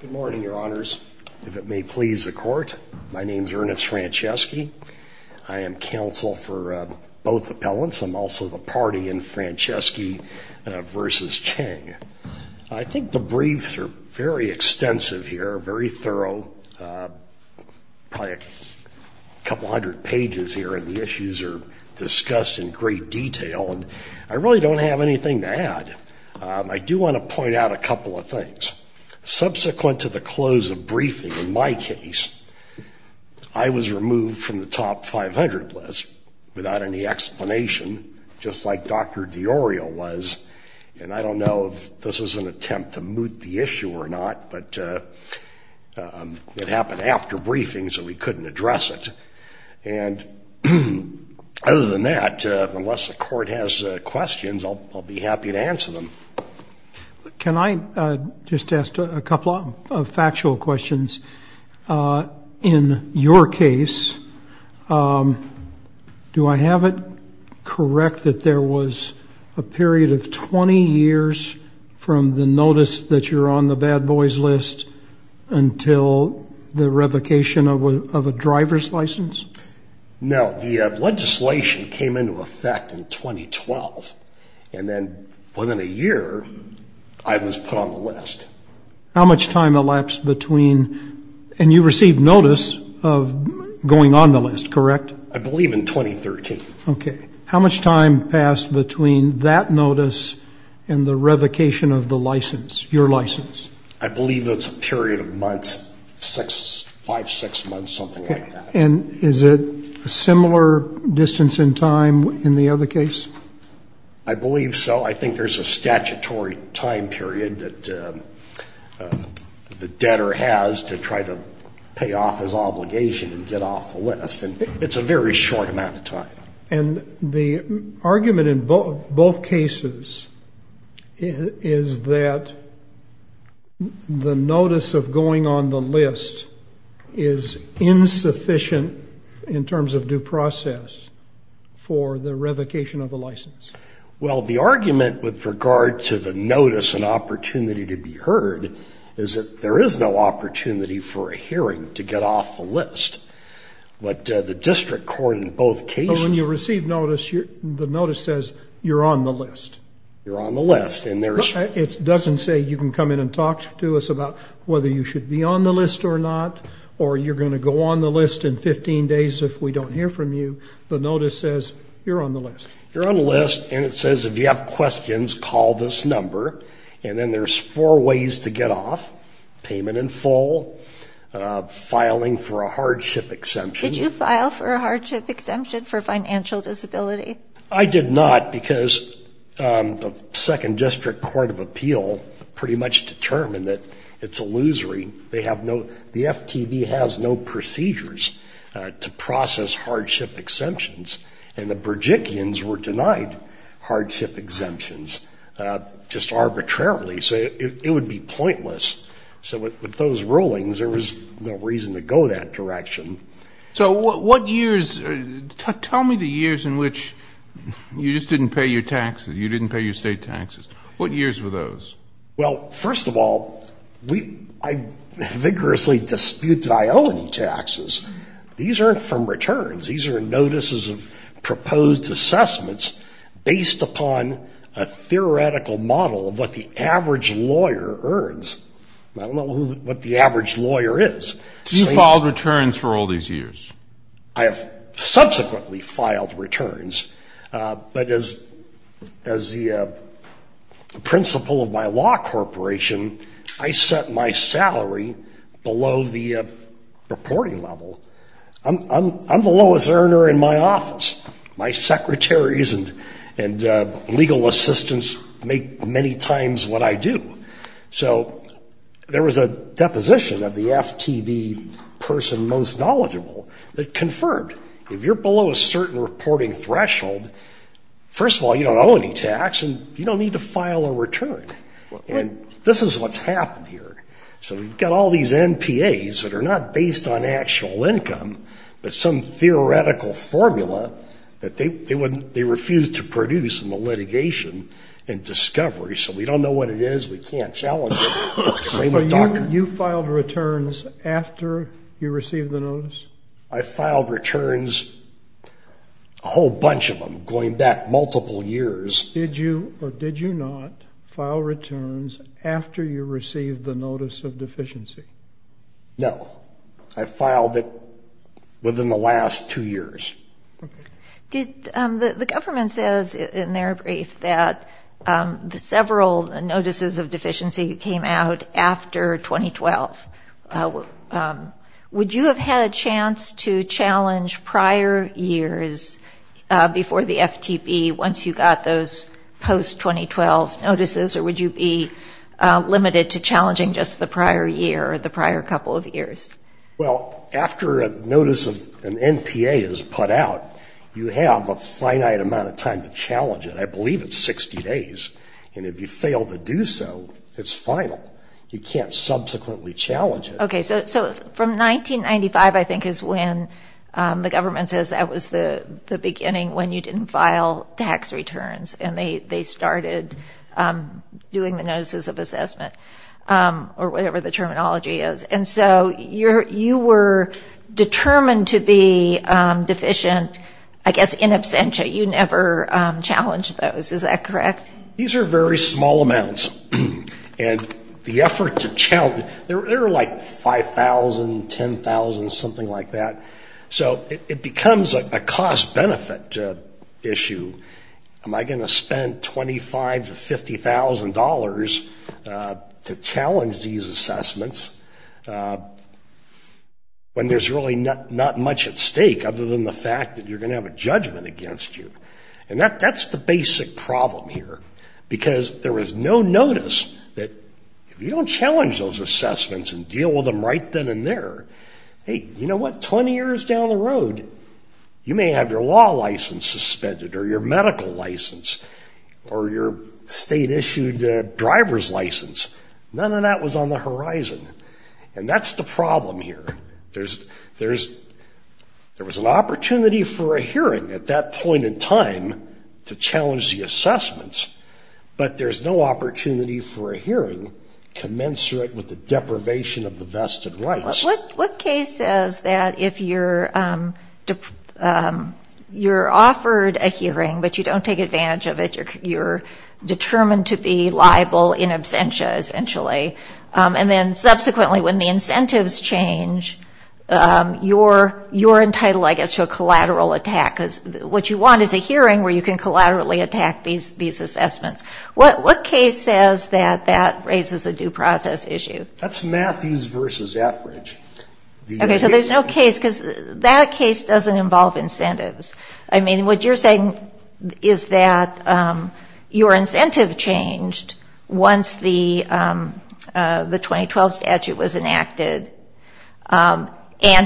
Good morning, Your Honors. If it may please the Court, my name is Ernest Franceschi. I am counsel for both appellants. I'm also the party in Franceschi v. Chiang. I think the briefs are very extensive here, very thorough, probably a couple hundred pages here, and the issues are discussed in great detail, and I really don't have anything to add. I do want to point out a subsequent to the close of briefing, in my case, I was removed from the top 500 list without any explanation, just like Dr. Diorio was, and I don't know if this was an attempt to moot the issue or not, but it happened after briefing, so we couldn't address it, and other than that, unless the Court has questions, I'll be happy to answer them. Can I just ask a couple of factual questions? In your case, do I have it correct that there was a period of 20 years from the notice that you're on the bad boys list until the revocation of a driver's license? No. The legislation came into effect in 2012, and then within a year, I was put on the list. How much time elapsed between, and you received notice of going on the list, correct? I believe in 2013. Okay. How much time passed between that notice and the revocation of the license, your license? I believe it's a period of months, five, six months, something like that. And is it a similar distance in time in the other case? I believe so. I think there's a statutory time period that the debtor has to try to pay off his obligation and get off the list, and it's a very short amount of is insufficient in terms of due process for the revocation of a license. Well, the argument with regard to the notice and opportunity to be heard is that there is no opportunity for a hearing to get off the list, but the District Court in both cases... When you receive notice, the notice says you're on the list. You're on the list, and there's... It doesn't say you can come in and talk to us about whether you should be on the list or not, or you're going to go on the list in 15 days if we don't hear from you. The notice says you're on the list. You're on the list, and it says if you have questions, call this number, and then there's four ways to get off. Payment in full, filing for a hardship exemption... Did you file for a hardship exemption for financial disability? I did not, because the Second District Court of Appeal pretty much determined that it's illusory. They have no... The FTB has no procedures to process hardship exemptions, and the Berjickians were denied hardship exemptions just arbitrarily, so it would be pointless. So with those rulings, there was no reason to go that direction. So what years... Tell me the years in which you just didn't pay your taxes, you didn't pay your state taxes. What years were those? Well, first of all, I vigorously dispute that I owe any taxes. These aren't from returns. These are notices of proposed assessments based upon a theoretical model of what the average lawyer earns. I don't know what the average lawyer is. You filed returns for all these years? I have principle of my law corporation, I set my salary below the reporting level. I'm the lowest earner in my office. My secretaries and legal assistants make many times what I do. So there was a deposition of the FTB person most knowledgeable that confirmed, if you're below a certain reporting threshold, first of all, you don't owe any tax and you don't need to file a return. And this is what's happened here. So we've got all these NPAs that are not based on actual income, but some theoretical formula that they refused to produce in the litigation and discovery, so we don't know what it is, we can't challenge it. So you filed returns after you received the notice? I filed returns, a whole bunch of them, going back multiple years. Did you or did you not file returns after you received the notice of deficiency? No, I filed it within the last two years. The government says in their brief that several notices of deficiency came out after 2012. Would you have had a chance to challenge prior years before the FTB once you got those post-2012 notices, or would you be limited to challenging just the prior year or the prior couple of years? Well, after a notice of an NPA is put out, you have a finite amount of time to challenge it. I believe it's 60 days, and if you fail to do so, it's final. You can't subsequently challenge it. Okay, so from 1995, I think, is when the government says that was the beginning when you didn't file tax returns, and they started doing the notices of assessment, or whatever the terminology is, and so you were determined to be deficient, I guess, in absentia. You never challenged those, is that correct? These are very small amounts, and the effort to challenge, there were like 5,000, 10,000, something like that, so it becomes a cost-benefit issue. Am I going to spend 25 to 50 thousand dollars to challenge these assessments when there's really not much at stake other than the fact that you're going to have a judgment against you? And that's the basic problem here, because there was no notice that if you don't challenge those assessments and deal with them right then and there, hey, you know what, 20 years down the road, you may have your law license suspended, or your medical license, or your state-issued driver's license. None of that was on the horizon, and that's the problem here. There was an opportunity for a hearing at that point in time to challenge the assessments, but there's no opportunity for a hearing commensurate with the deprivation of the vested rights. What case says that if you're offered a hearing, but you don't take advantage of it, you're determined to be liable in absentia, essentially, and then subsequently when the incentives change, you're entitled, I guess, to a collateral attack, because what you want is a hearing where you can collaterally attack these assessments. What case says that that raises a due process issue? That's Matthews v. Attridge. Okay, so there's no case, because that case doesn't involve incentives. I understand your incentive changed once the 2012 statute was enacted, and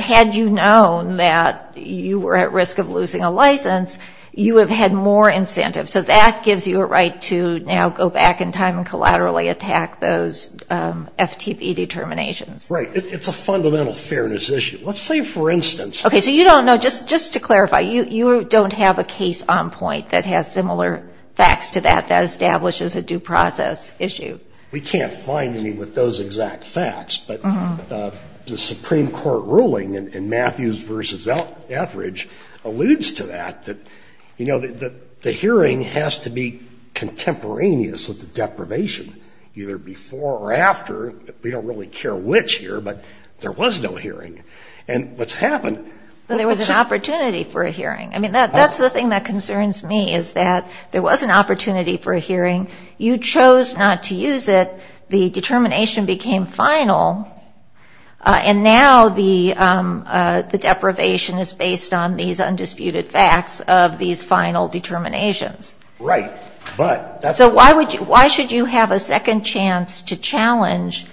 had you known that you were at risk of losing a license, you would have had more incentive. So that gives you a right to now go back in time and collaterally attack those FTP determinations. Right. It's a fundamental fairness issue. Let's say, for instance... Okay, so you don't know, just to clarify, you don't have a case on point that has similar facts to that, that establishes a due process issue? We can't find any with those exact facts, but the Supreme Court ruling in Matthews v. Attridge alludes to that, that, you know, the hearing has to be contemporaneous with the deprivation, either before or after. We don't really care which year, but there was no hearing. And what's happened... There was an opportunity for a hearing. I mean, that's the thing that concerns me, is that there was an opportunity for a hearing. You chose not to use it. The determination became final, and now the deprivation is based on these undisputed facts of these final determinations. Right, but... So why should you have a second chance to challenge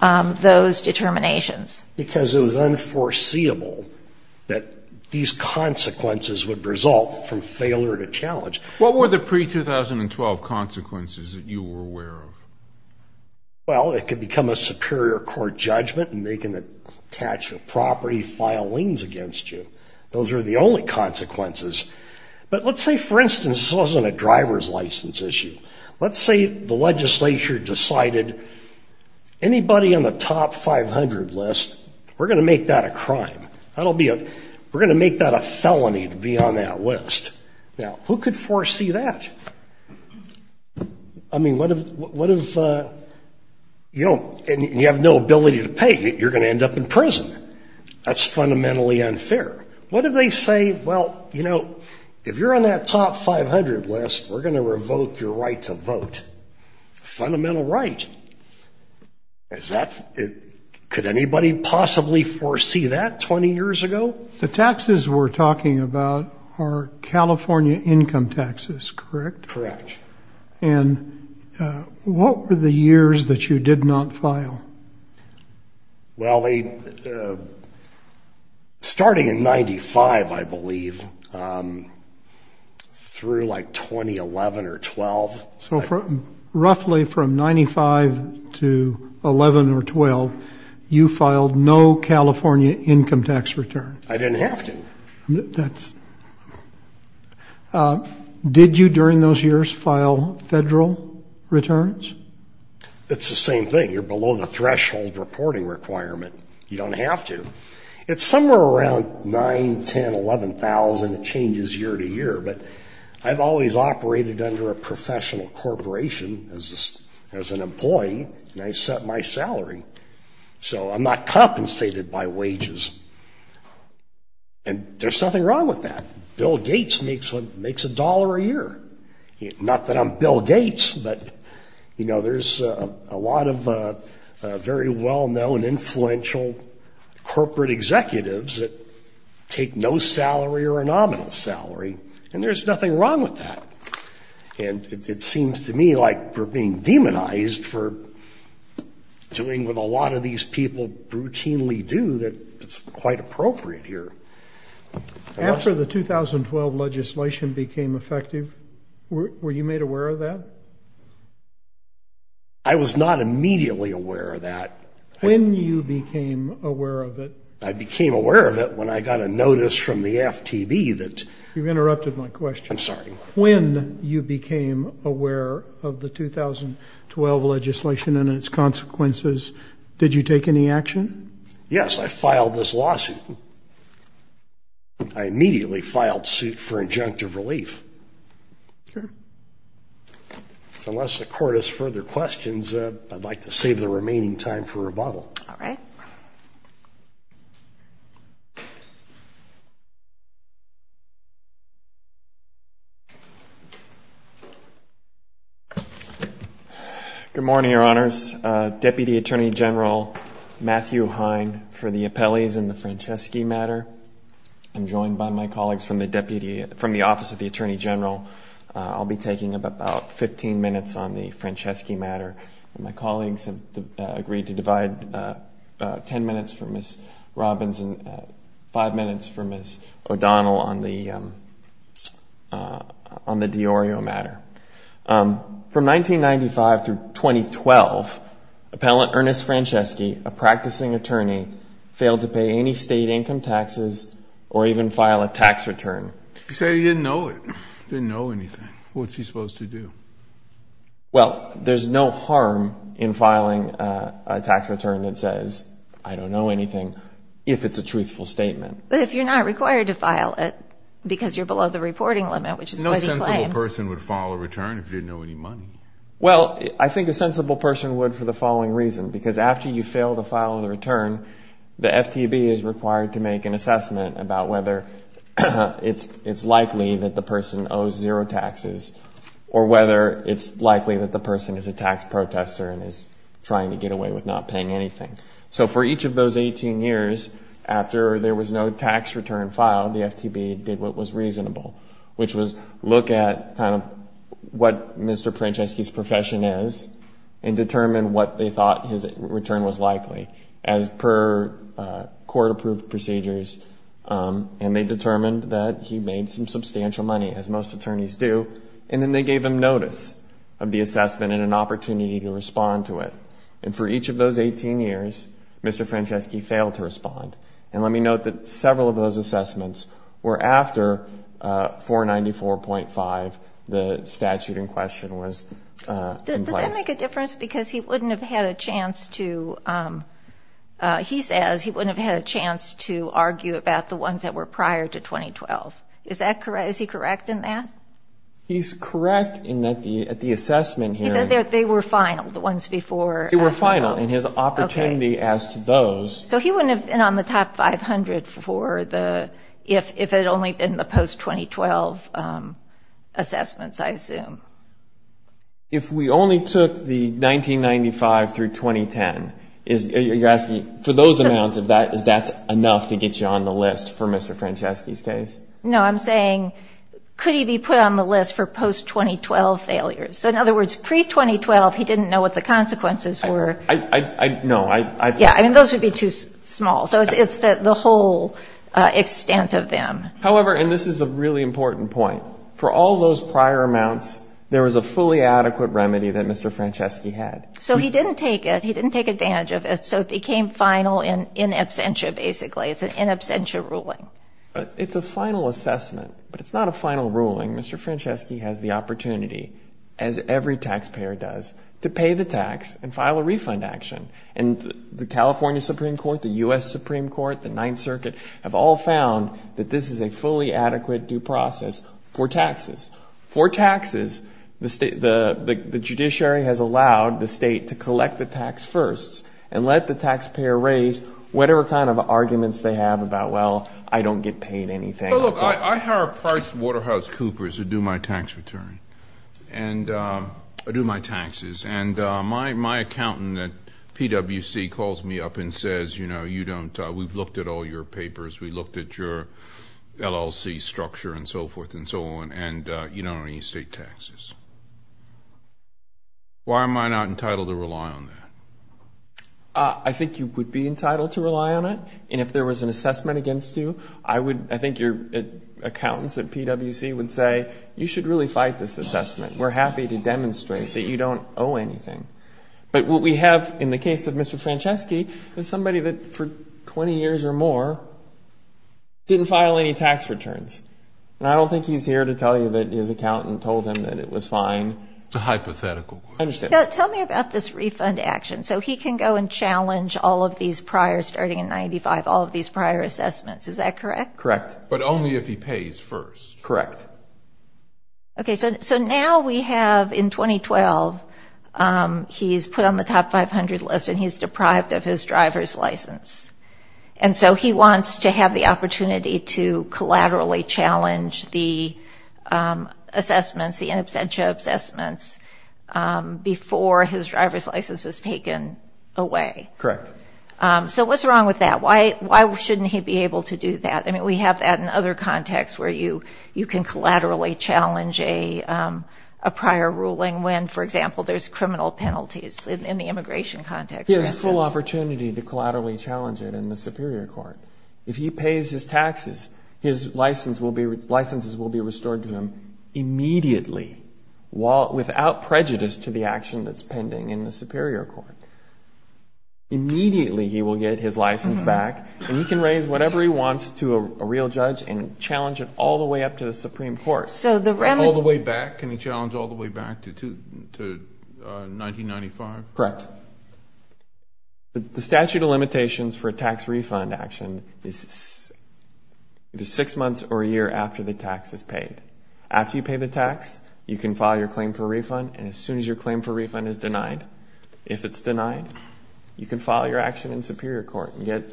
those determinations? Because it was unforeseeable that these consequences would result from failure to challenge. What were the pre-2012 consequences that you were aware of? Well, it could become a superior court judgment, and they can attach a property, file liens against you. Those are the only consequences. But let's say, for instance, this wasn't a driver's license issue. Let's say the legislature decided, anybody on the top 500 list, we're going to make that a list. Now, who could foresee that? I mean, what if... And you have no ability to pay. You're going to end up in prison. That's fundamentally unfair. What if they say, well, you know, if you're on that top 500 list, we're going to revoke your right to vote. Fundamental right. Could anybody possibly foresee that 20 years ago? The taxes we're talking about are California income taxes, correct? Correct. And what were the years that you did not file? Well, starting in 95, I believe, through like 2011 or 12. So roughly from 95 to 11 or 12, you filed no California income tax return? I didn't have to. That's... Did you, during those years, file federal returns? It's the same thing. You're below the threshold reporting requirement. You don't have to. It's somewhere around 9, 10, 11,000 changes year to year, but I've always operated under a professional corporation as an employee, and I set my salary. So I'm not compensated by wages. And there's nothing wrong with that. Bill Gates makes a dollar a year. Not that I'm Bill Gates, but, you know, there's a lot of very well-known influential corporate executives that take no salary or a nominal salary, and there's nothing wrong with that. And it seems to me like we're being demonized for doing what a lot of these people routinely do that's quite appropriate here. After the 2012 legislation became effective, were you made aware of that? I was not immediately aware of that. When you became aware of it? I became aware of it when I got a notice from the FTB that... You've interrupted my question. I'm aware of the 2012 legislation and its consequences. Did you take any action? Yes, I filed this lawsuit. I immediately filed suit for injunctive relief. Unless the court has further questions, I'd like to save the remaining time for rebuttal. All right. Good morning, Your Honors. Deputy Attorney General Matthew Hine for the appellees in the Franceschi matter. I'm joined by my colleagues from the Office of the Attorney General. I'll be taking about 15 minutes on the Franceschi matter. My colleagues have agreed to divide 10 minutes for Ms. From 1995 through 2012, Appellant Ernest Franceschi, a practicing attorney, failed to pay any state income taxes or even file a tax return. You say he didn't know it, didn't know anything. What's he supposed to do? Well, there's no harm in filing a tax return that says, I don't know anything, if it's a truthful statement. But if you're not required to file it because you're below the minimum, you're not required to file a tax return if you didn't know any money. Well, I think a sensible person would for the following reason. Because after you fail to file the return, the FTB is required to make an assessment about whether it's likely that the person owes zero taxes or whether it's likely that the person is a tax protester and is trying to get away with not paying anything. So for each of those 18 years, after there was no tax return filed, the Franceschi's profession is and determined what they thought his return was likely as per court-approved procedures. And they determined that he made some substantial money, as most attorneys do. And then they gave him notice of the assessment and an opportunity to respond to it. And for each of those 18 years, Mr. Franceschi failed to respond. And let me note that 494.5, the statute in question was in place. Does that make a difference? Because he wouldn't have had a chance to, he says he wouldn't have had a chance to argue about the ones that were prior to 2012. Is that correct? Is he correct in that? He's correct in that the, at the assessment hearing... He said they were final, the ones before... They were final. And his opportunity as to those... If we only took the 1995 through 2010, you're asking for those amounts, is that enough to get you on the list for Mr. Franceschi's case? No, I'm saying, could he be put on the list for post-2012 failures? So in other words, pre-2012, he didn't know what the consequences were. I, I, I, no, I, I... Yeah, I mean, those would be too small. So it's the whole extent of them. However, and this is a really important point, for all those prior amounts, there was a fully adequate remedy that Mr. Franceschi had. So he didn't take it. He didn't take advantage of it. So it became final in, in absentia, basically. It's an in absentia ruling. But it's a final assessment, but it's not a final ruling. Mr. Franceschi has the opportunity, as every taxpayer does, to pay the tax and file a refund action. And the California Supreme Court, the U.S. has a fully adequate due process for taxes. For taxes, the state, the, the, the judiciary has allowed the state to collect the tax firsts and let the taxpayer raise whatever kind of arguments they have about, well, I don't get paid anything. Well, look, I, I hire a Price Waterhouse Coopers to do my tax return and do my taxes. And my, my accountant at PWC calls me up and says, you know, you don't, we've looked at all your papers. We looked at your LLC structure and so forth and so on. And you don't owe any state taxes. Why am I not entitled to rely on that? I think you would be entitled to rely on it. And if there was an assessment against you, I would, I think your accountants at PWC would say, you should really fight this assessment. We're happy to demonstrate that you don't owe anything. But what we have in the case of Mr. Didn't file any tax returns. And I don't think he's here to tell you that his accountant told him that it was fine. A hypothetical. I understand. Tell me about this refund action. So he can go and challenge all of these prior, starting in 95, all of these prior assessments. Is that correct? Correct. But only if he pays first. Correct. Okay. So, so now we have in 2012, um, he's put on the top 500 list and he's deprived of his driver's license. And so he wants to have the opportunity to collaterally challenge the, um, assessments, the absentia assessments, um, before his driver's license is taken away. Correct. Um, so what's wrong with that? Why, why shouldn't he be able to do that? I mean, we have that in other contexts where you, you can collaterally challenge a, um, a prior ruling when, for example, there's criminal penalties in the immigration context. He has a full opportunity to collaterally challenge it in the superior court. If he pays his taxes, his license will be, licenses will be restored to him immediately while, without prejudice to the action that's pending in the superior court. Immediately he will get his license back and he can raise whatever he wants to a real judge and challenge it all the way up to the Supreme Court. So the remedy... All the way back? Can he challenge all the way back to, to, uh, 1995? Correct. The statute of limitations for a tax refund action is either six months or a year after the tax is paid. After you pay the tax, you can file your claim for refund. And as soon as your claim for refund is denied, if it's denied, you can file your action in superior court and get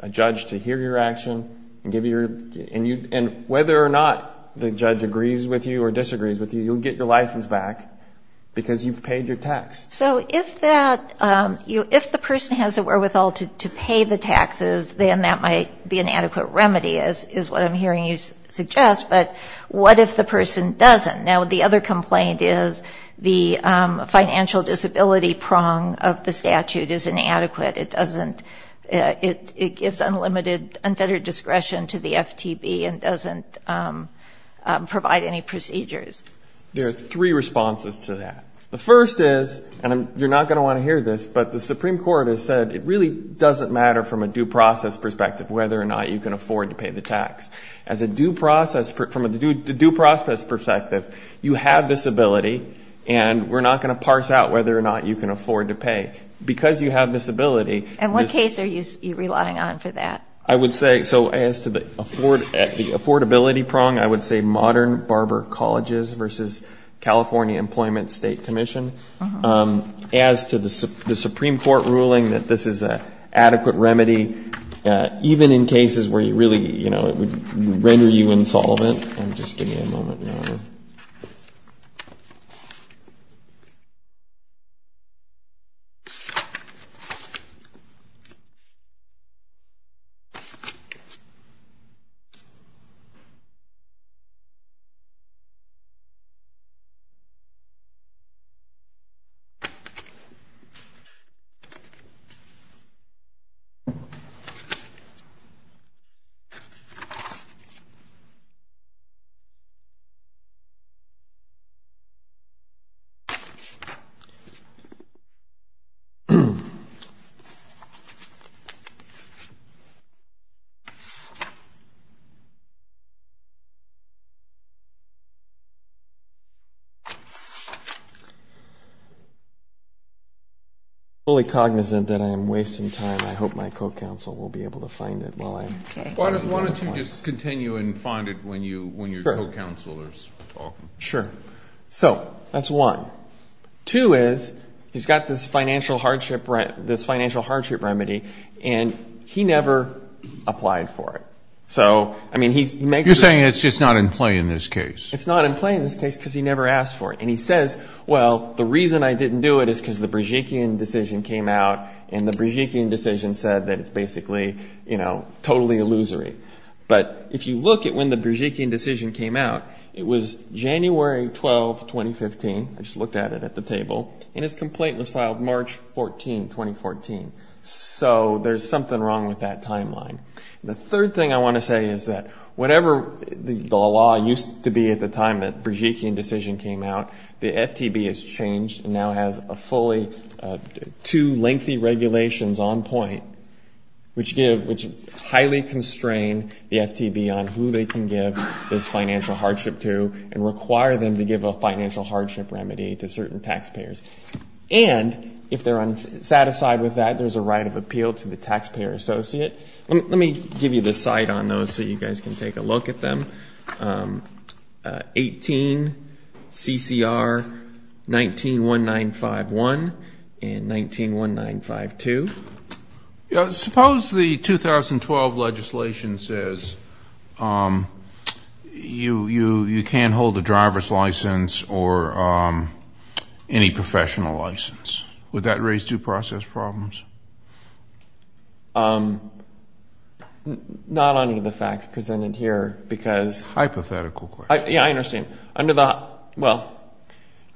a judge to hear your action and give you your, and you, and whether or not the judge agrees with you or disagrees with you, you'll get your license back because you've paid your tax. So if that, um, you, if the person has a wherewithal to, to pay the taxes, then that might be an adequate remedy is, is what I'm hearing you suggest. But what if the person doesn't? Now, the other complaint is the, um, financial disability prong of the statute is inadequate. It doesn't, uh, it, it gives unlimited unfettered discretion to the FTB and doesn't, um, um, provide any procedures. There are three responses to that. The first is, and I'm, you're not going to want to hear this, but the Supreme Court has said, it really doesn't matter from a due process perspective, whether or not you can afford to pay the tax. As a due process, from a due process perspective, you have this ability and we're not going to parse out whether or not you can afford to pay because you have this ability. And what case are you relying on for that? I would say, so as to the afford, the affordability prong, I would say modern barber colleges versus California employment state commission, um, as to the S the Supreme court ruling that this is a adequate remedy, uh, even in cases where you really, you know, it would render you insolvent. I'm fully cognizant that I am wasting time. I hope my co-counsel will be able to find it while I'm... Why don't you just continue and find it when you, when your co-counsel is talking. Sure. So that's one. Two is, he's got this financial hardship, this financial hardship remedy, and he never applied for it. So, I mean, he makes... You're saying it's just not in play in this case. It's not in play in this case because he never asked for it. And he says, well, the reason I didn't do it is because the Brzezinski decision came out and the Brzezinski decision said that it's basically, you know, totally illusory. But if you look at when the Brzezinski decision came out, it was January 12, 2015. I just looked at it at the table and his complaint was filed March 14, 2014. So there's something wrong with that timeline. The third thing I want to say is that whatever the law used to be at the time that Brzezinski decision came out, the FTB has changed and now has a fully, two lengthy regulations on point, which give, which highly constrain the FTB on who they can give this financial hardship to and require them to give a financial hardship remedy to certain taxpayers. And if they're unsatisfied with that, there's a right of appeal to the taxpayer associate. Let me give you the site on those so you guys can take a look at them. 18 CCR, 19, 1951 and 19, 1952. Suppose the 2012 legislation says you can't hold a driver's license or any professional license. Would that raise due process problems? Not under the facts presented here because... Hypothetical question. Yeah, I understand. Under the, well,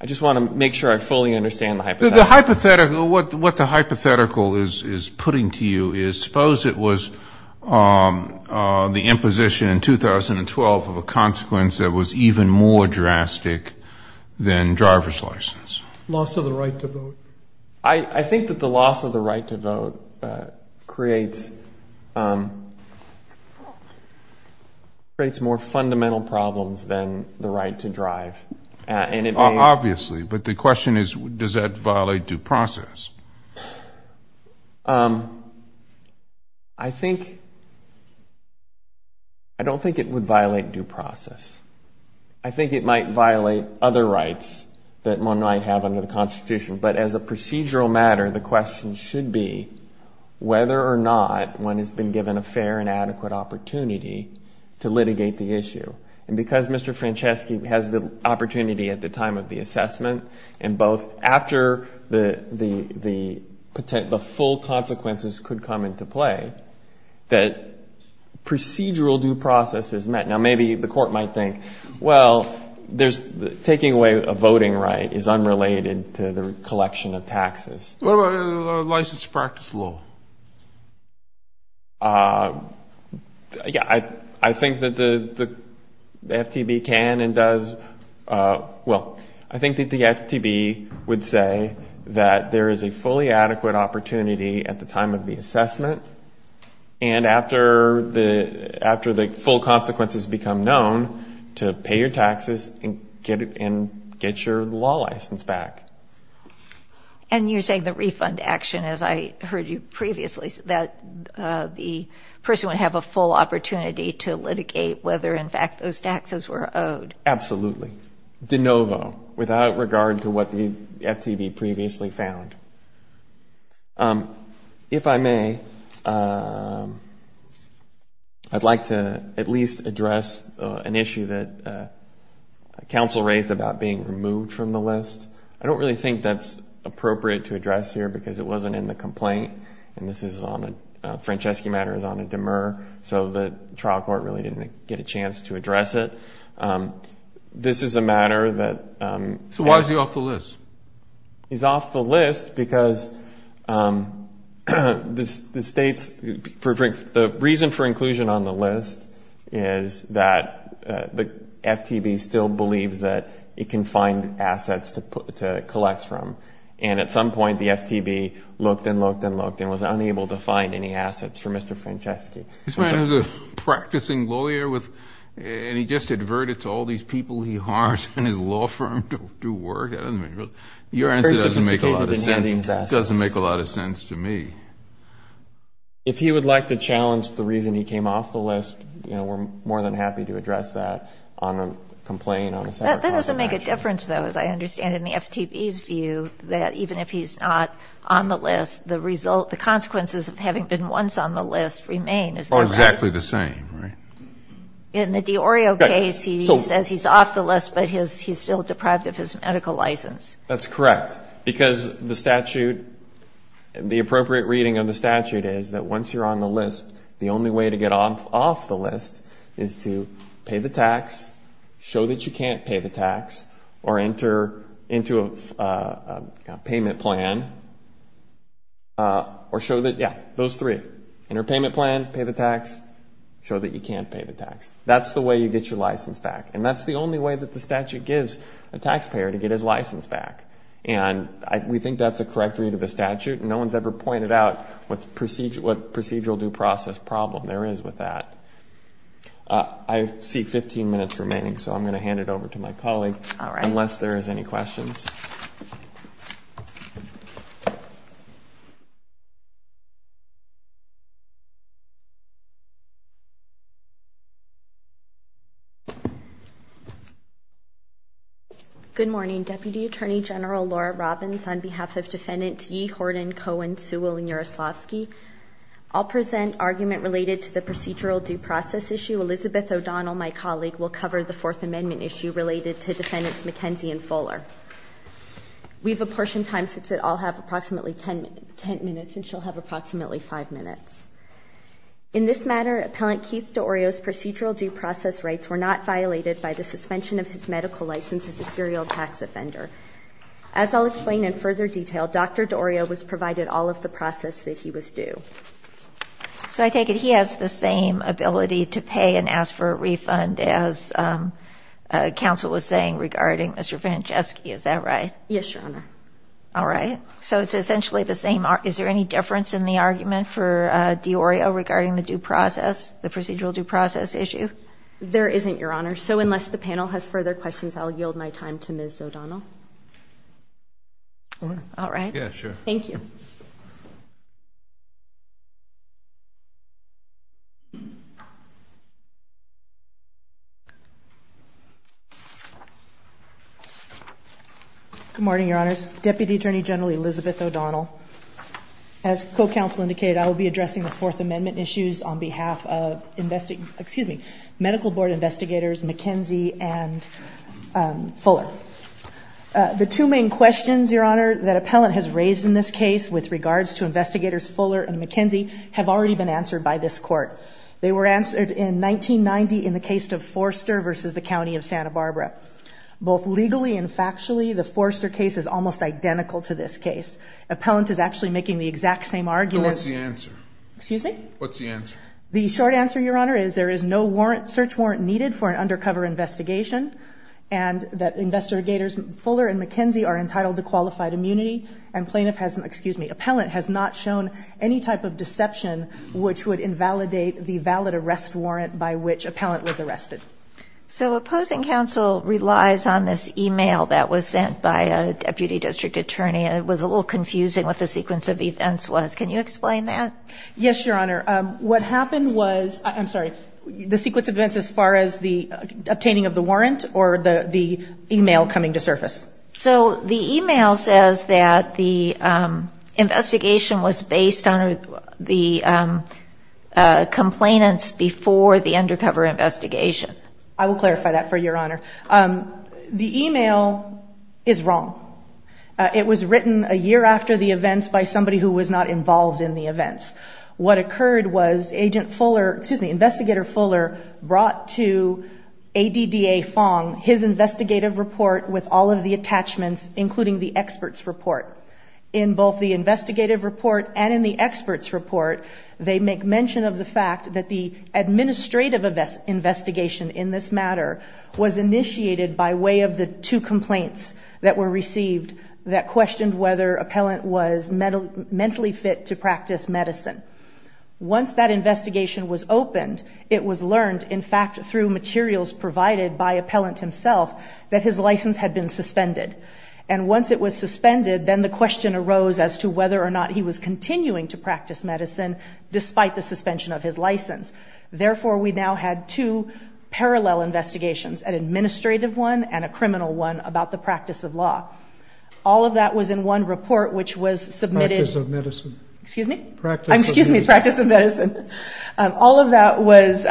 I just want to make sure I fully understand the hypothetical. The hypothetical, what the hypothetical is putting to you is suppose it was the imposition in 2012 of a consequence that was even more drastic than driver's license. Loss of the right to vote. I think that the loss of the right to vote is a consequence of the imposition of the right to vote creates more fundamental problems than the right to drive. And it may... Obviously, but the question is, does that violate due process? I think, I don't think it would violate due process. I think it might violate other rights that one might have under the whether or not one has been given a fair and adequate opportunity to litigate the issue. And because Mr. Franceschi has the opportunity at the time of the assessment and both after the potential, the full consequences could come into play, that procedural due process is met. Now, maybe the court might think, well, there's taking away a voting right is unrelated to the collection of taxes. What about a license to practice law? Yeah, I think that the FTB can and does. Well, I think that the FTB would say that there is a fully adequate opportunity at the time of the assessment and after the full consequences become known to pay your taxes and get your law license back. And you're saying the refund action, as I heard you previously, that the person would have a full opportunity to litigate whether in fact those taxes were owed. Absolutely. De novo, without regard to what the FTB previously found. If I may, I'd like to at least address an issue that counsel raised about being removed from the list. I don't really think that's appropriate to address here because it wasn't in the complaint. And this is on a, Franceschi matter is on a demur. So the trial court really didn't get a chance to address it. This is a matter that. So why is he off the list? He's off the list because the reason for inclusion on the list is that the FTB still believes that it can find assets to collect from. And at some point, the FTB looked and looked and looked and was unable to find any assets for Mr. Franceschi. This man is a practicing lawyer with and he just adverted to all these people he hires in his law firm to do work. Your answer doesn't make a lot of sense to me. If he would like to challenge the reason he came off the list, you know, we're more than happy to address that on a complaint on a separate clause of action. That doesn't make a difference, though, as I understand in the FTB's view that even if he's not on the list, the result, the consequences of having been once on the list remain, is that right? Oh, exactly the same, right? In the D'Orio case, he says he's off the list, but he's still deprived of his medical license. That's correct because the statute, the appropriate reading of the statute is that once you're on the list, the only way to get off the list is to pay the tax, show that you can't pay the tax, or enter into a payment plan, or show that, yeah, those three, enter payment plan, pay the tax, show that you can't pay the tax. That's the way you get your license back. And that's the only way that the statute gives a taxpayer to get his license back. And we think that's a correct read of the statute. No one's ever pointed out what procedural due process problem there is with that. I see 15 minutes remaining, so I'm going to hand it over to my colleague, unless there is any questions. Good morning, Deputy Attorney General Laura Robbins. On behalf of Defendants Yee, Horden, Cohen, Sewell, and Yaroslavsky, I'll present argument related to the procedural due process issue. Elizabeth O'Donnell, my colleague, will cover the Fourth Amendment issue related to Defendants McKenzie and Fuller. We have a portion of time, since they all have approximately 10 minutes, and she'll have approximately 5 minutes. In this matter, Appellant Keith D'Orio's procedural due process rights were not violated by the suspension of his medical license as a serial tax offender. As I'll explain in further detail, Dr. D'Orio was provided all of the process that he was due. So I take it he has the same ability to pay and ask for a refund as counsel was saying regarding Mr. Franceschi, is that right? Yes, Your Honor. All right. So it's essentially the same. Is there any difference in the argument for D'Orio regarding the due process, the procedural due process issue? There isn't, Your Honor. So unless the panel has further questions, I'll yield my time to Ms. O'Donnell. All right. Yeah, sure. Thank you. Good morning, Your Honors. Deputy Attorney General Elizabeth O'Donnell. As co-counsel indicated, I will be addressing the Fourth Amendment issues on behalf of, excuse me, Medical Board Investigators McKenzie and Fuller. The two main questions, Your Honor, that appellant has raised in this case with regards to investigators Fuller and McKenzie have already been answered by this court. They were answered in 1990 in the case of Forster versus the County of Santa Barbara. Both legally and factually, the Forster case is almost identical to this case. Appellant is actually making the exact same argument. So what's the answer? Excuse me? What's the answer? The short answer, Your Honor, is there is no warrant, search warrant needed for an undercover investigation and that investigators Fuller and McKenzie are entitled to qualified immunity and plaintiff has, excuse me, appellant has not shown any type of deception which would invalidate the valid arrest warrant by which appellant was arrested. So opposing counsel relies on this email that was sent by a deputy district attorney. It was a little confusing what the sequence of events was. Can you explain that? Yes, Your Honor. What happened was, I'm sorry, the sequence of events as far as the obtaining of the warrant or the email coming to surface? So the email says that the investigation was based on the complainants before the undercover investigation. I will clarify that for Your Honor. The email is wrong. It was written a year after the events by somebody who was not involved in the events. What occurred was Agent Fuller, excuse me, sent to ADDA Fong his investigative report with all of the attachments, including the expert's report. In both the investigative report and in the expert's report, they make mention of the fact that the administrative investigation in this matter was initiated by way of the two complaints that were received that questioned whether appellant was mentally fit to practice medicine. Once that investigation was opened, it was learned, in fact, through materials provided by appellant himself, that his license had been suspended. And once it was suspended, then the question arose as to whether or not he was continuing to practice medicine despite the suspension of his license. Therefore, we now had two parallel investigations, an administrative one and a criminal one about the practice of law. All of that was in one report, which was submitted. Practice of medicine. Excuse me? Practice of medicine. Excuse me. Practice of medicine. All of that was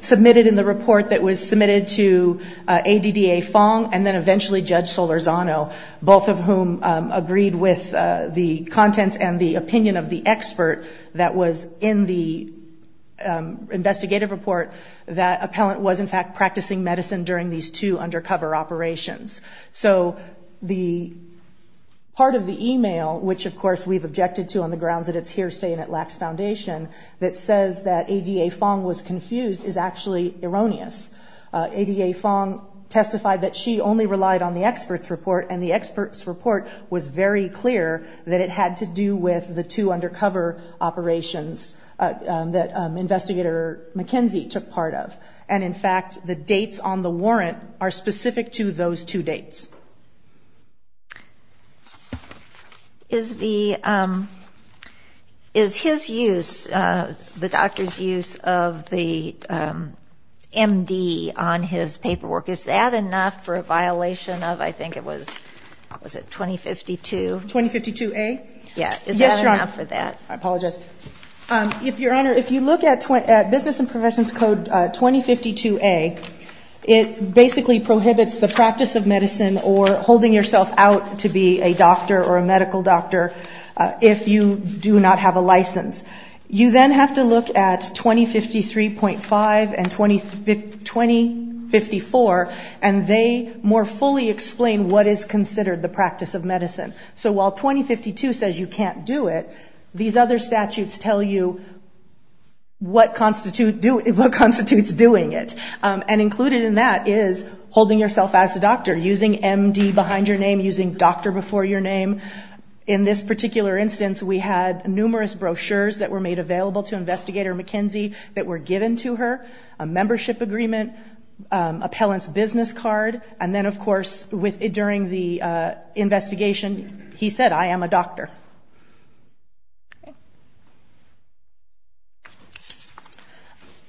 submitted in the report that was submitted to ADDA Fong and then eventually Judge Solorzano, both of whom agreed with the contents and the opinion of the expert that was in the investigative report that appellant was, in fact, practicing medicine during these two undercover operations. So the part of the email, which of course we've objected to on the grounds that it's hearsay and it lacks foundation, that says that ADDA Fong was confused is actually erroneous. ADDA Fong testified that she only relied on the expert's report. And the expert's report was very clear that it had to do with the two undercover operations that investigator McKenzie took part of. And in fact, the dates on the warrant are specific to those two dates. Is his use, the doctor's use of the MD on his paperwork, is that enough for a violation of, I think it was, what was it, 2052? 2052A? Yeah. Is that enough for that? Yes, Your Honor. I apologize. Your Honor, if you look at Business and Professions Code 2052A, it basically prohibits the practice of medicine or holding yourself out to be a doctor or a medical doctor if you do not have a license. You then have to look at 2053.5 and 2054, and they more fully explain what is considered the practice of medicine. So while 2052 says you can't do it, these other statutes tell you what constitutes doing it. And included in that is holding yourself as a doctor, using MD behind your name, using doctor before your name. In this particular instance, we had numerous brochures that were made available to investigator McKenzie that were given to her, a membership agreement, appellant's business card. And then, of course, during the investigation, he said, I am a doctor.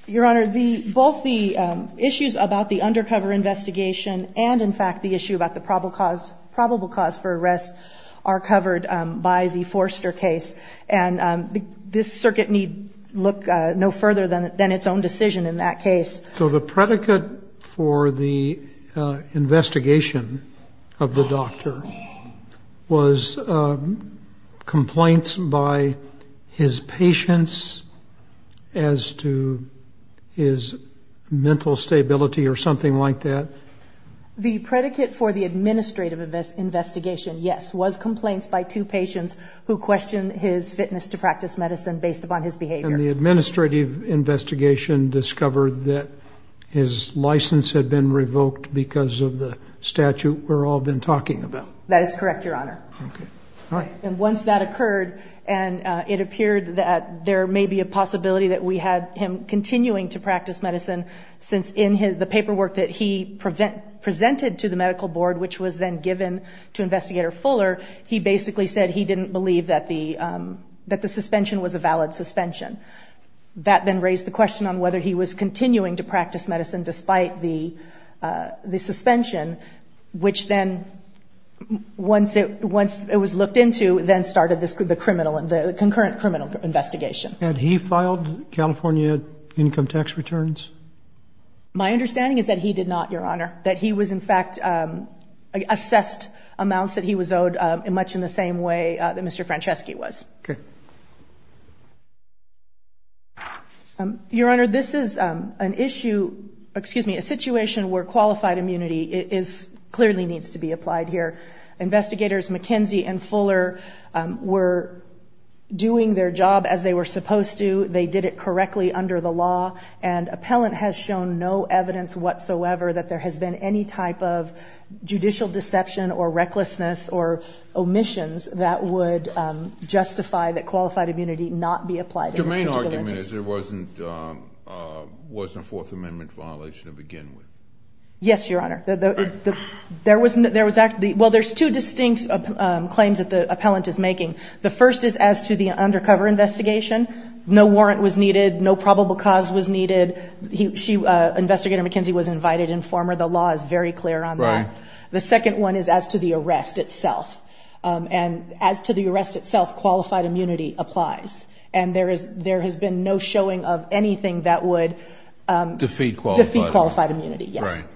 Your Honor, both the issues about the undercover investigation and, in fact, the issue about the probable cause for arrest are covered by the Forster case. And this circuit need look no further than its own decision in that case. So the predicate for the investigation of the doctor was complaints by his patients as to his mental stability or something like that? The predicate for the administrative investigation, yes, was complaints by two patients who questioned his fitness to practice medicine based upon his behavior. And the administrative investigation discovered that his license had been revoked because of the statute we've all been talking about? That is correct, Your Honor. And once that occurred, and it appeared that there may be a possibility that we had him continuing to practice medicine since in the paperwork that he presented to the medical board, which was then given to Investigator Fuller, he basically said he didn't believe that the suspension was a valid suspension. That then raised the question on whether he was continuing to practice medicine despite the suspension, which then, once it was looked into, then started the concurrent criminal investigation. Had he filed California income tax returns? My understanding is that he did not, Your Honor. That he was, in fact, assessed amounts that he was owed much in the same way that Mr. Franceschi was. Okay. Your Honor, this is an issue, excuse me, a situation where qualified immunity clearly needs to be applied here. Investigators McKenzie and Fuller were doing their job as they were supposed to. They did it correctly under the law. And appellant has shown no evidence whatsoever that there has been any type of judicial deception or recklessness or omissions that would justify that qualified immunity not be applied. The main argument is there wasn't a Fourth Amendment violation to begin with. Yes, Your Honor. There was, well, there's two distinct claims that the appellant is making. The first is as to the undercover investigation. No warrant was needed. No probable cause was needed. Investigator McKenzie was invited, informer. The law is very clear on that. The second one is as to the arrest itself. And as to the arrest itself, qualified immunity applies. And there has been no showing of anything that would... Defeat qualified immunity. Defeat qualified immunity, yes. Right.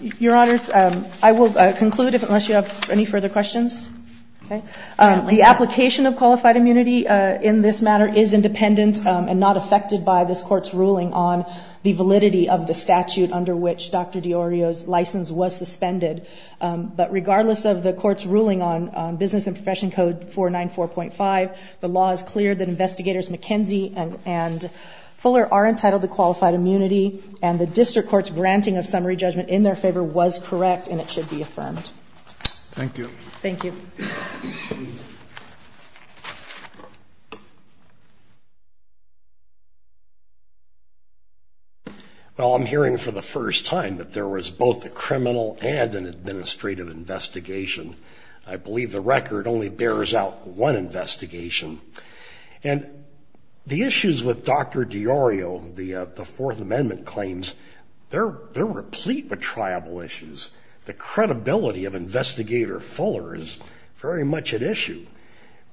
Your Honors, I will conclude unless you have any further questions. The application of qualified immunity in this matter is independent and not affected by this court's ruling on the validity of the statute under which Dr. Di Iorio's license was suspended. But regardless of the court's ruling on Business and Profession Code 494.5, the law is clear that investigators McKenzie and Fuller are entitled to qualified immunity. And the district court's granting of summary judgment in their favor was correct and it should be affirmed. Thank you. Thank you. Well, I'm hearing for the first time that there was both a criminal and an administrative investigation. I believe the record only bears out one investigation. And the issues with Dr. Di Iorio, the Fourth Amendment claims, they're replete with triable issues. The credibility of Investigator Fuller is very much at issue.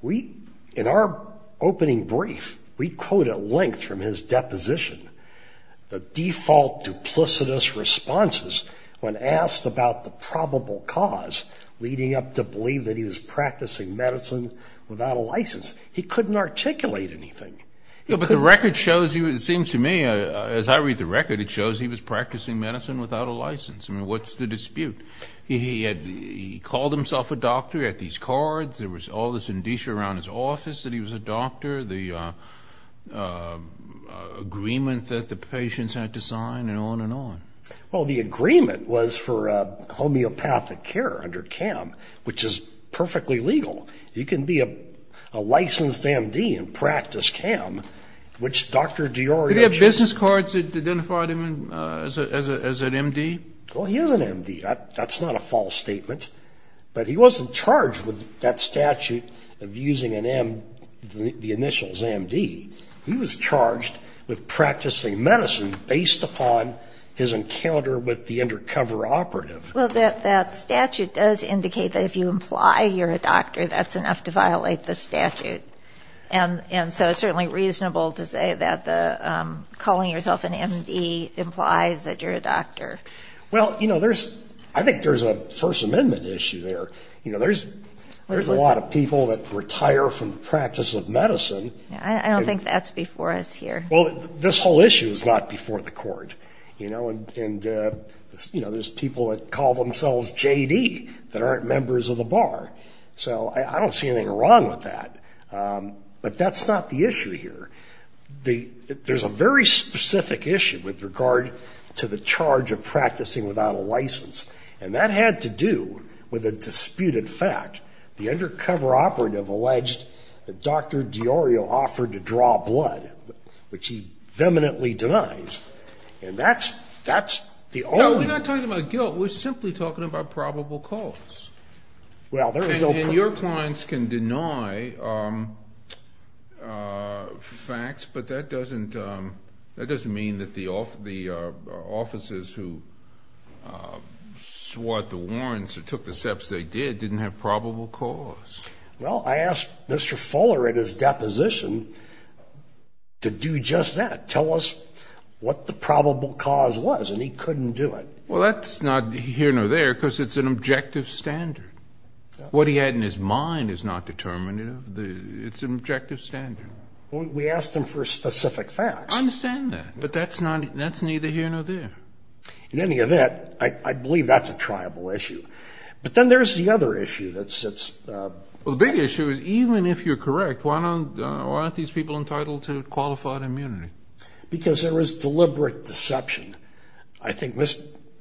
We, in our opening brief, we quote at length from his deposition, the default duplicitous responses when asked about the probable cause leading up to believe that he was practicing medicine without a license. He couldn't articulate anything. But the record shows, it seems to me, as I read the record, it shows he was practicing medicine without a license. I mean, what's the dispute? He called himself a doctor, he had these cards, there was all this indicia around his office that he was a doctor, the agreement that the patients had to sign and on and on. Well, the agreement was for homeopathic care under CAM, which is perfectly legal. You can be a licensed AMD and practice CAM, which Dr. Di Iorio... Did he have business cards that identified him as an MD? Well, he is an MD. That's not a false statement. But he wasn't charged with that statute of using the initials AMD. He was charged with practicing medicine based upon his encounter with the undercover operative. Well, that statute does indicate that if you imply you're a doctor, that's enough to violate the statute. And so it's certainly reasonable to say that calling yourself an MD implies that you're a doctor. Well, you know, I think there's a First Amendment issue there. You know, there's a lot of people that retire from the practice of medicine... I don't think that's before us here. Well, this whole issue is not before the court, you know, and, you know, there's people that call themselves JD that aren't members of the bar. So I don't see anything wrong with that. But that's not the issue here. There's a very specific issue with regard to the charge of practicing without a license. And that had to do with a disputed fact. The undercover operative alleged that Dr. DiIorio offered to draw blood, which he vehemently denies. And that's the only... No, we're not talking about guilt. We're simply talking about probable cause. And your clients can deny facts, but that doesn't mean that the officers who swat the warrants or took the steps they did didn't have probable cause. Well, I asked Mr. Fuller at his deposition to do just that. Tell us what the probable cause was, and he couldn't do it. Well, that's not here nor there, because it's an objective standard. What he had in his mind is not determinative. It's an objective standard. We asked him for specific facts. I understand that, but that's neither here nor there. In any event, I believe that's a triable issue. But then there's the other issue that sits... Well, the big issue is, even if you're correct, why aren't these people entitled to qualified immunity? Because there was deliberate deception. I think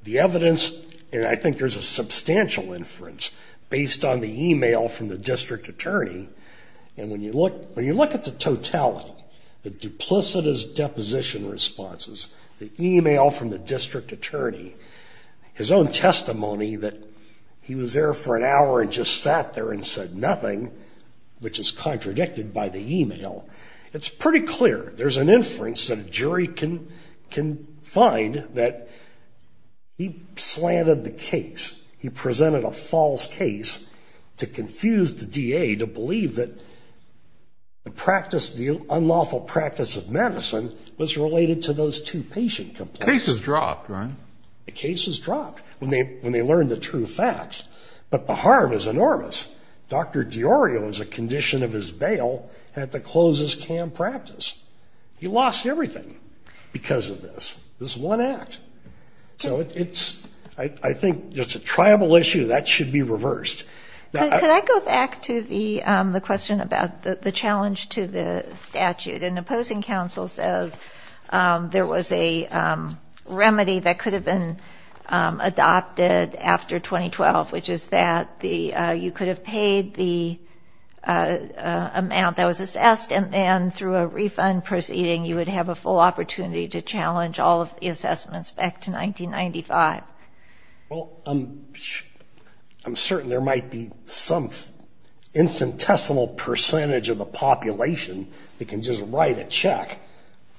the evidence... And I think there's a substantial inference based on the email from the district attorney. And when you look at the totality, the duplicitous deposition responses, the email from the district attorney, his own testimony that he was there for an hour and just sat there and said nothing, which is contradicted by the email, it's pretty clear there's an inference that a jury can find that he slanted the case. He presented a false case to confuse the DA to believe that the practice, the unlawful practice of medicine was related to those two patient complaints. The case is dropped, right? The case is dropped when they learn the true facts. But the harm is enormous. Dr. Di Iorio's condition of his bail had to close his CAM practice. He lost everything because of this, this one act. So it's, I think, just a triable issue that should be reversed. Could I go back to the question about the challenge to the statute? An opposing counsel says there was a remedy that could have been adopted after 2012, which is that you could have paid the amount that was assessed and then through a refund proceeding, you would have a full opportunity to challenge all of the assessments back to 1995. Well, I'm certain there might be some infinitesimal percentage of the population that can just write a check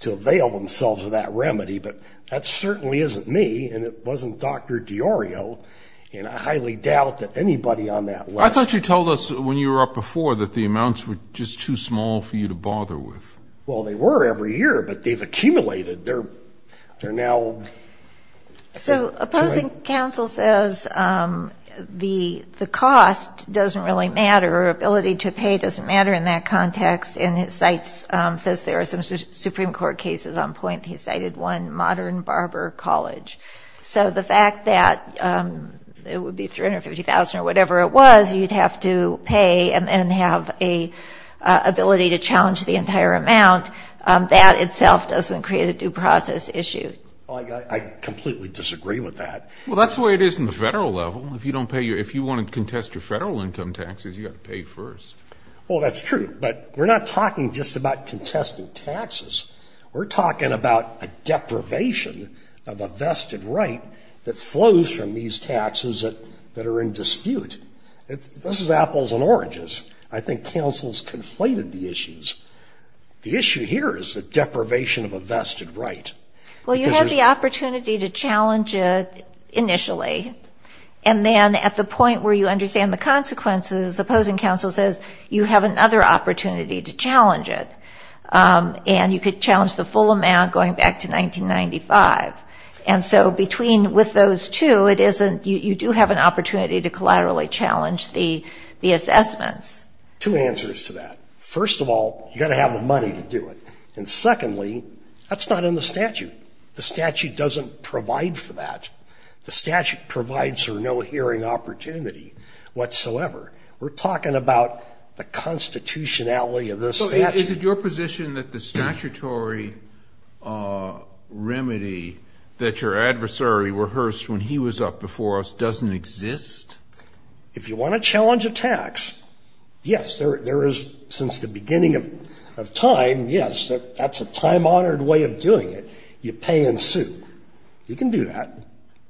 to avail themselves of that remedy, but that certainly isn't me, and it wasn't Dr. Di Iorio, and I highly doubt that anybody on that list- I thought you told us when you were up before that the amounts were just too small for you to bother with. Well, they were every year, but they've accumulated. They're now- So opposing counsel says the cost doesn't really matter, or ability to pay doesn't matter in that context, and he says there are some Supreme Court cases on point. He cited one, Modern Barber College. So the fact that it would be 350,000 or whatever it was, you'd have to pay and have a ability to challenge the entire amount, that itself doesn't create a due process issue. Well, I completely disagree with that. Well, that's the way it is in the federal level. If you want to contest your federal income taxes, you got to pay first. Well, that's true, but we're not talking just about contesting taxes. We're talking about a deprivation of a vested right that flows from these taxes that are in dispute. This is apples and oranges. I think counsel's conflated the issues. The issue here is the deprivation of a vested right. Well, you have the opportunity to challenge it initially, and then at the point where you understand the consequences, opposing counsel says you have another opportunity to challenge it, and you could challenge the full amount going back to 1995. And so between with those two, you do have an opportunity to collaterally challenge the assessments. Two answers to that. First of all, you got to have the money to do it. And secondly, that's not in the statute. The statute doesn't provide for that. The statute provides for no hearing opportunity whatsoever. We're talking about the constitutionality of the statute. Is it your position that the statutory remedy that your adversary rehearsed when he was up before us doesn't exist? If you want to challenge a tax, yes, there is, since the beginning of time, yes, that's a time-honored way of doing it. You pay in suit. You can do that.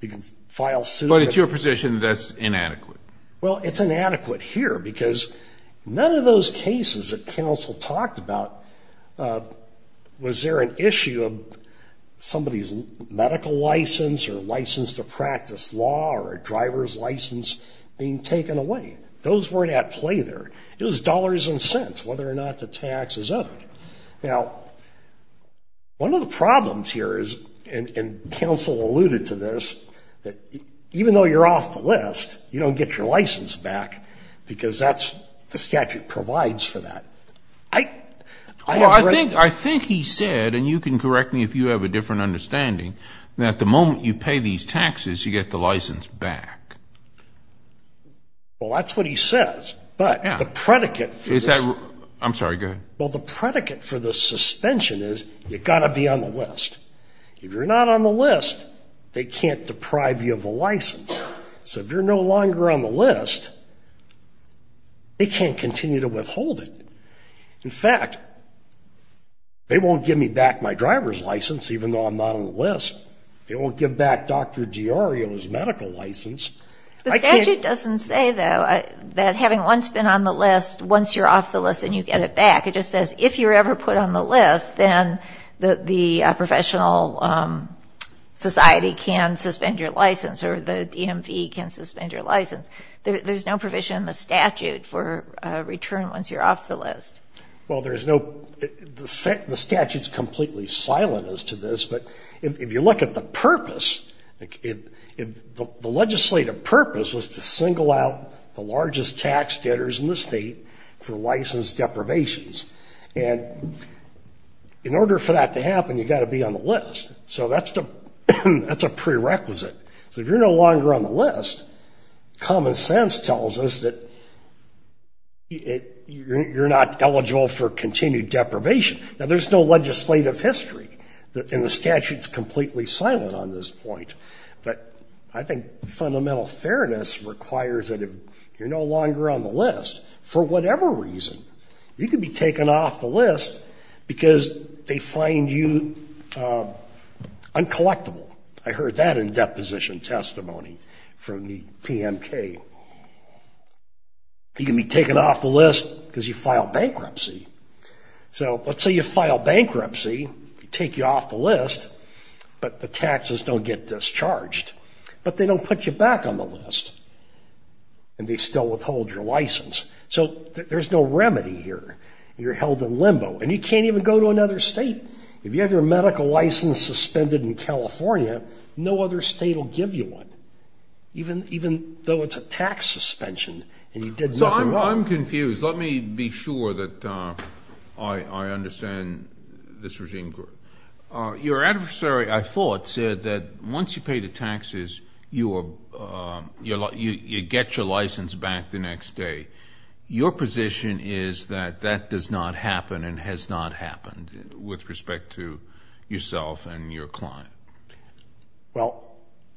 You can file suit. But it's your position that's inadequate. Well, it's inadequate here because none of those cases that counsel talked about, was there an issue of somebody's medical license or license to practice law or a driver's license being taken away? Those weren't at play there. It was dollars and cents, whether or not the tax is owed. Now, one of the problems here is, and counsel alluded to this, that even though you're off the list, you don't get your license back because that's, the statute provides for that. I think he said, and you can correct me if you have a different understanding, that the moment you pay these taxes, you get the license back. Well, that's what he says. But the predicate for this- I'm sorry, go ahead. Well, the predicate for the suspension is you gotta be on the list. If you're not on the list, they can't deprive you of the license. So if you're no longer on the list, they can't continue to withhold it. In fact, they won't give me back my driver's license, even though I'm not on the list. They won't give back Dr. Diario's medical license. I can't- The statute doesn't say though, that having once been on the list, once you're off the list and you get it back, it just says, if you're ever put on the list, then the professional society can suspend your license, or the DMV can suspend your license. There's no provision in the statute for a return once you're off the list. Well, there's no- The statute's completely silent as to this, but if you look at the purpose, the legislative purpose was to single out the largest tax debtors in the state for license deprivations. And in order for that to happen, you got to be on the list. So that's a prerequisite. So if you're no longer on the list, common sense tells us that you're not eligible for continued deprivation. Now there's no legislative history, and the statute's completely silent on this point. But I think fundamental fairness requires that if you're no longer on the list, for whatever reason, you can be taken off the list because they find you uncollectible. I heard that in deposition testimony from the PMK. You can be taken off the list because you file bankruptcy. So let's say you file bankruptcy, they take you off the list, but the taxes don't get discharged. But they don't put you back on the list, and they still withhold your license. So there's no remedy here. You're held in limbo, and you can't even go to another state. If you have your medical license suspended in California, no other state will give you one, even though it's a tax suspension, and you did nothing wrong. So I'm confused. Let me be sure that I understand this regime. Your adversary, I thought, said that once you pay the taxes, you get your license back the next day. Your position is that that does not happen and has not happened, with respect to yourself and your client. Well,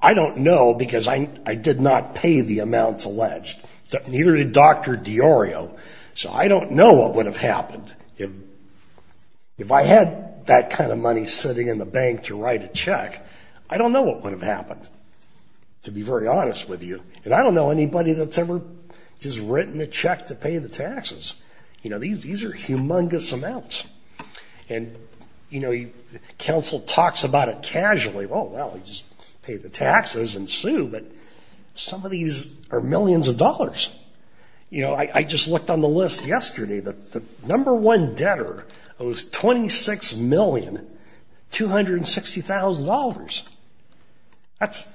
I don't know, because I did not pay the amounts alleged. Neither did Dr. Di Iorio. So I don't know what would have happened if I had that kind of money sitting in the bank to write a check. I don't know what would have happened, to be very honest with you. And I don't know anybody that's ever just written a check to pay the taxes. You know, these are humongous amounts. And, you know, counsel talks about it casually. Well, well, you just pay the taxes and sue, but some of these are millions of dollars. You know, I just looked on the list yesterday that the number one debtor owes $26,260,000. That's,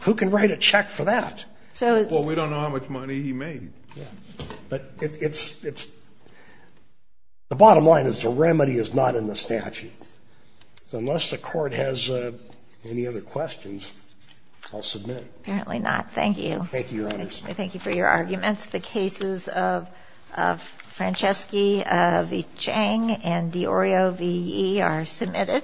who can write a check for that? So- Well, we don't know how much money he made. But it's, the bottom line is the remedy is not in the statute. So unless the court has any other questions, I'll submit. Apparently not. Thank you. Thank you, Your Honors. Thank you for your arguments. The cases of Franceschi v. Chang and D'Orio v. Yee are submitted.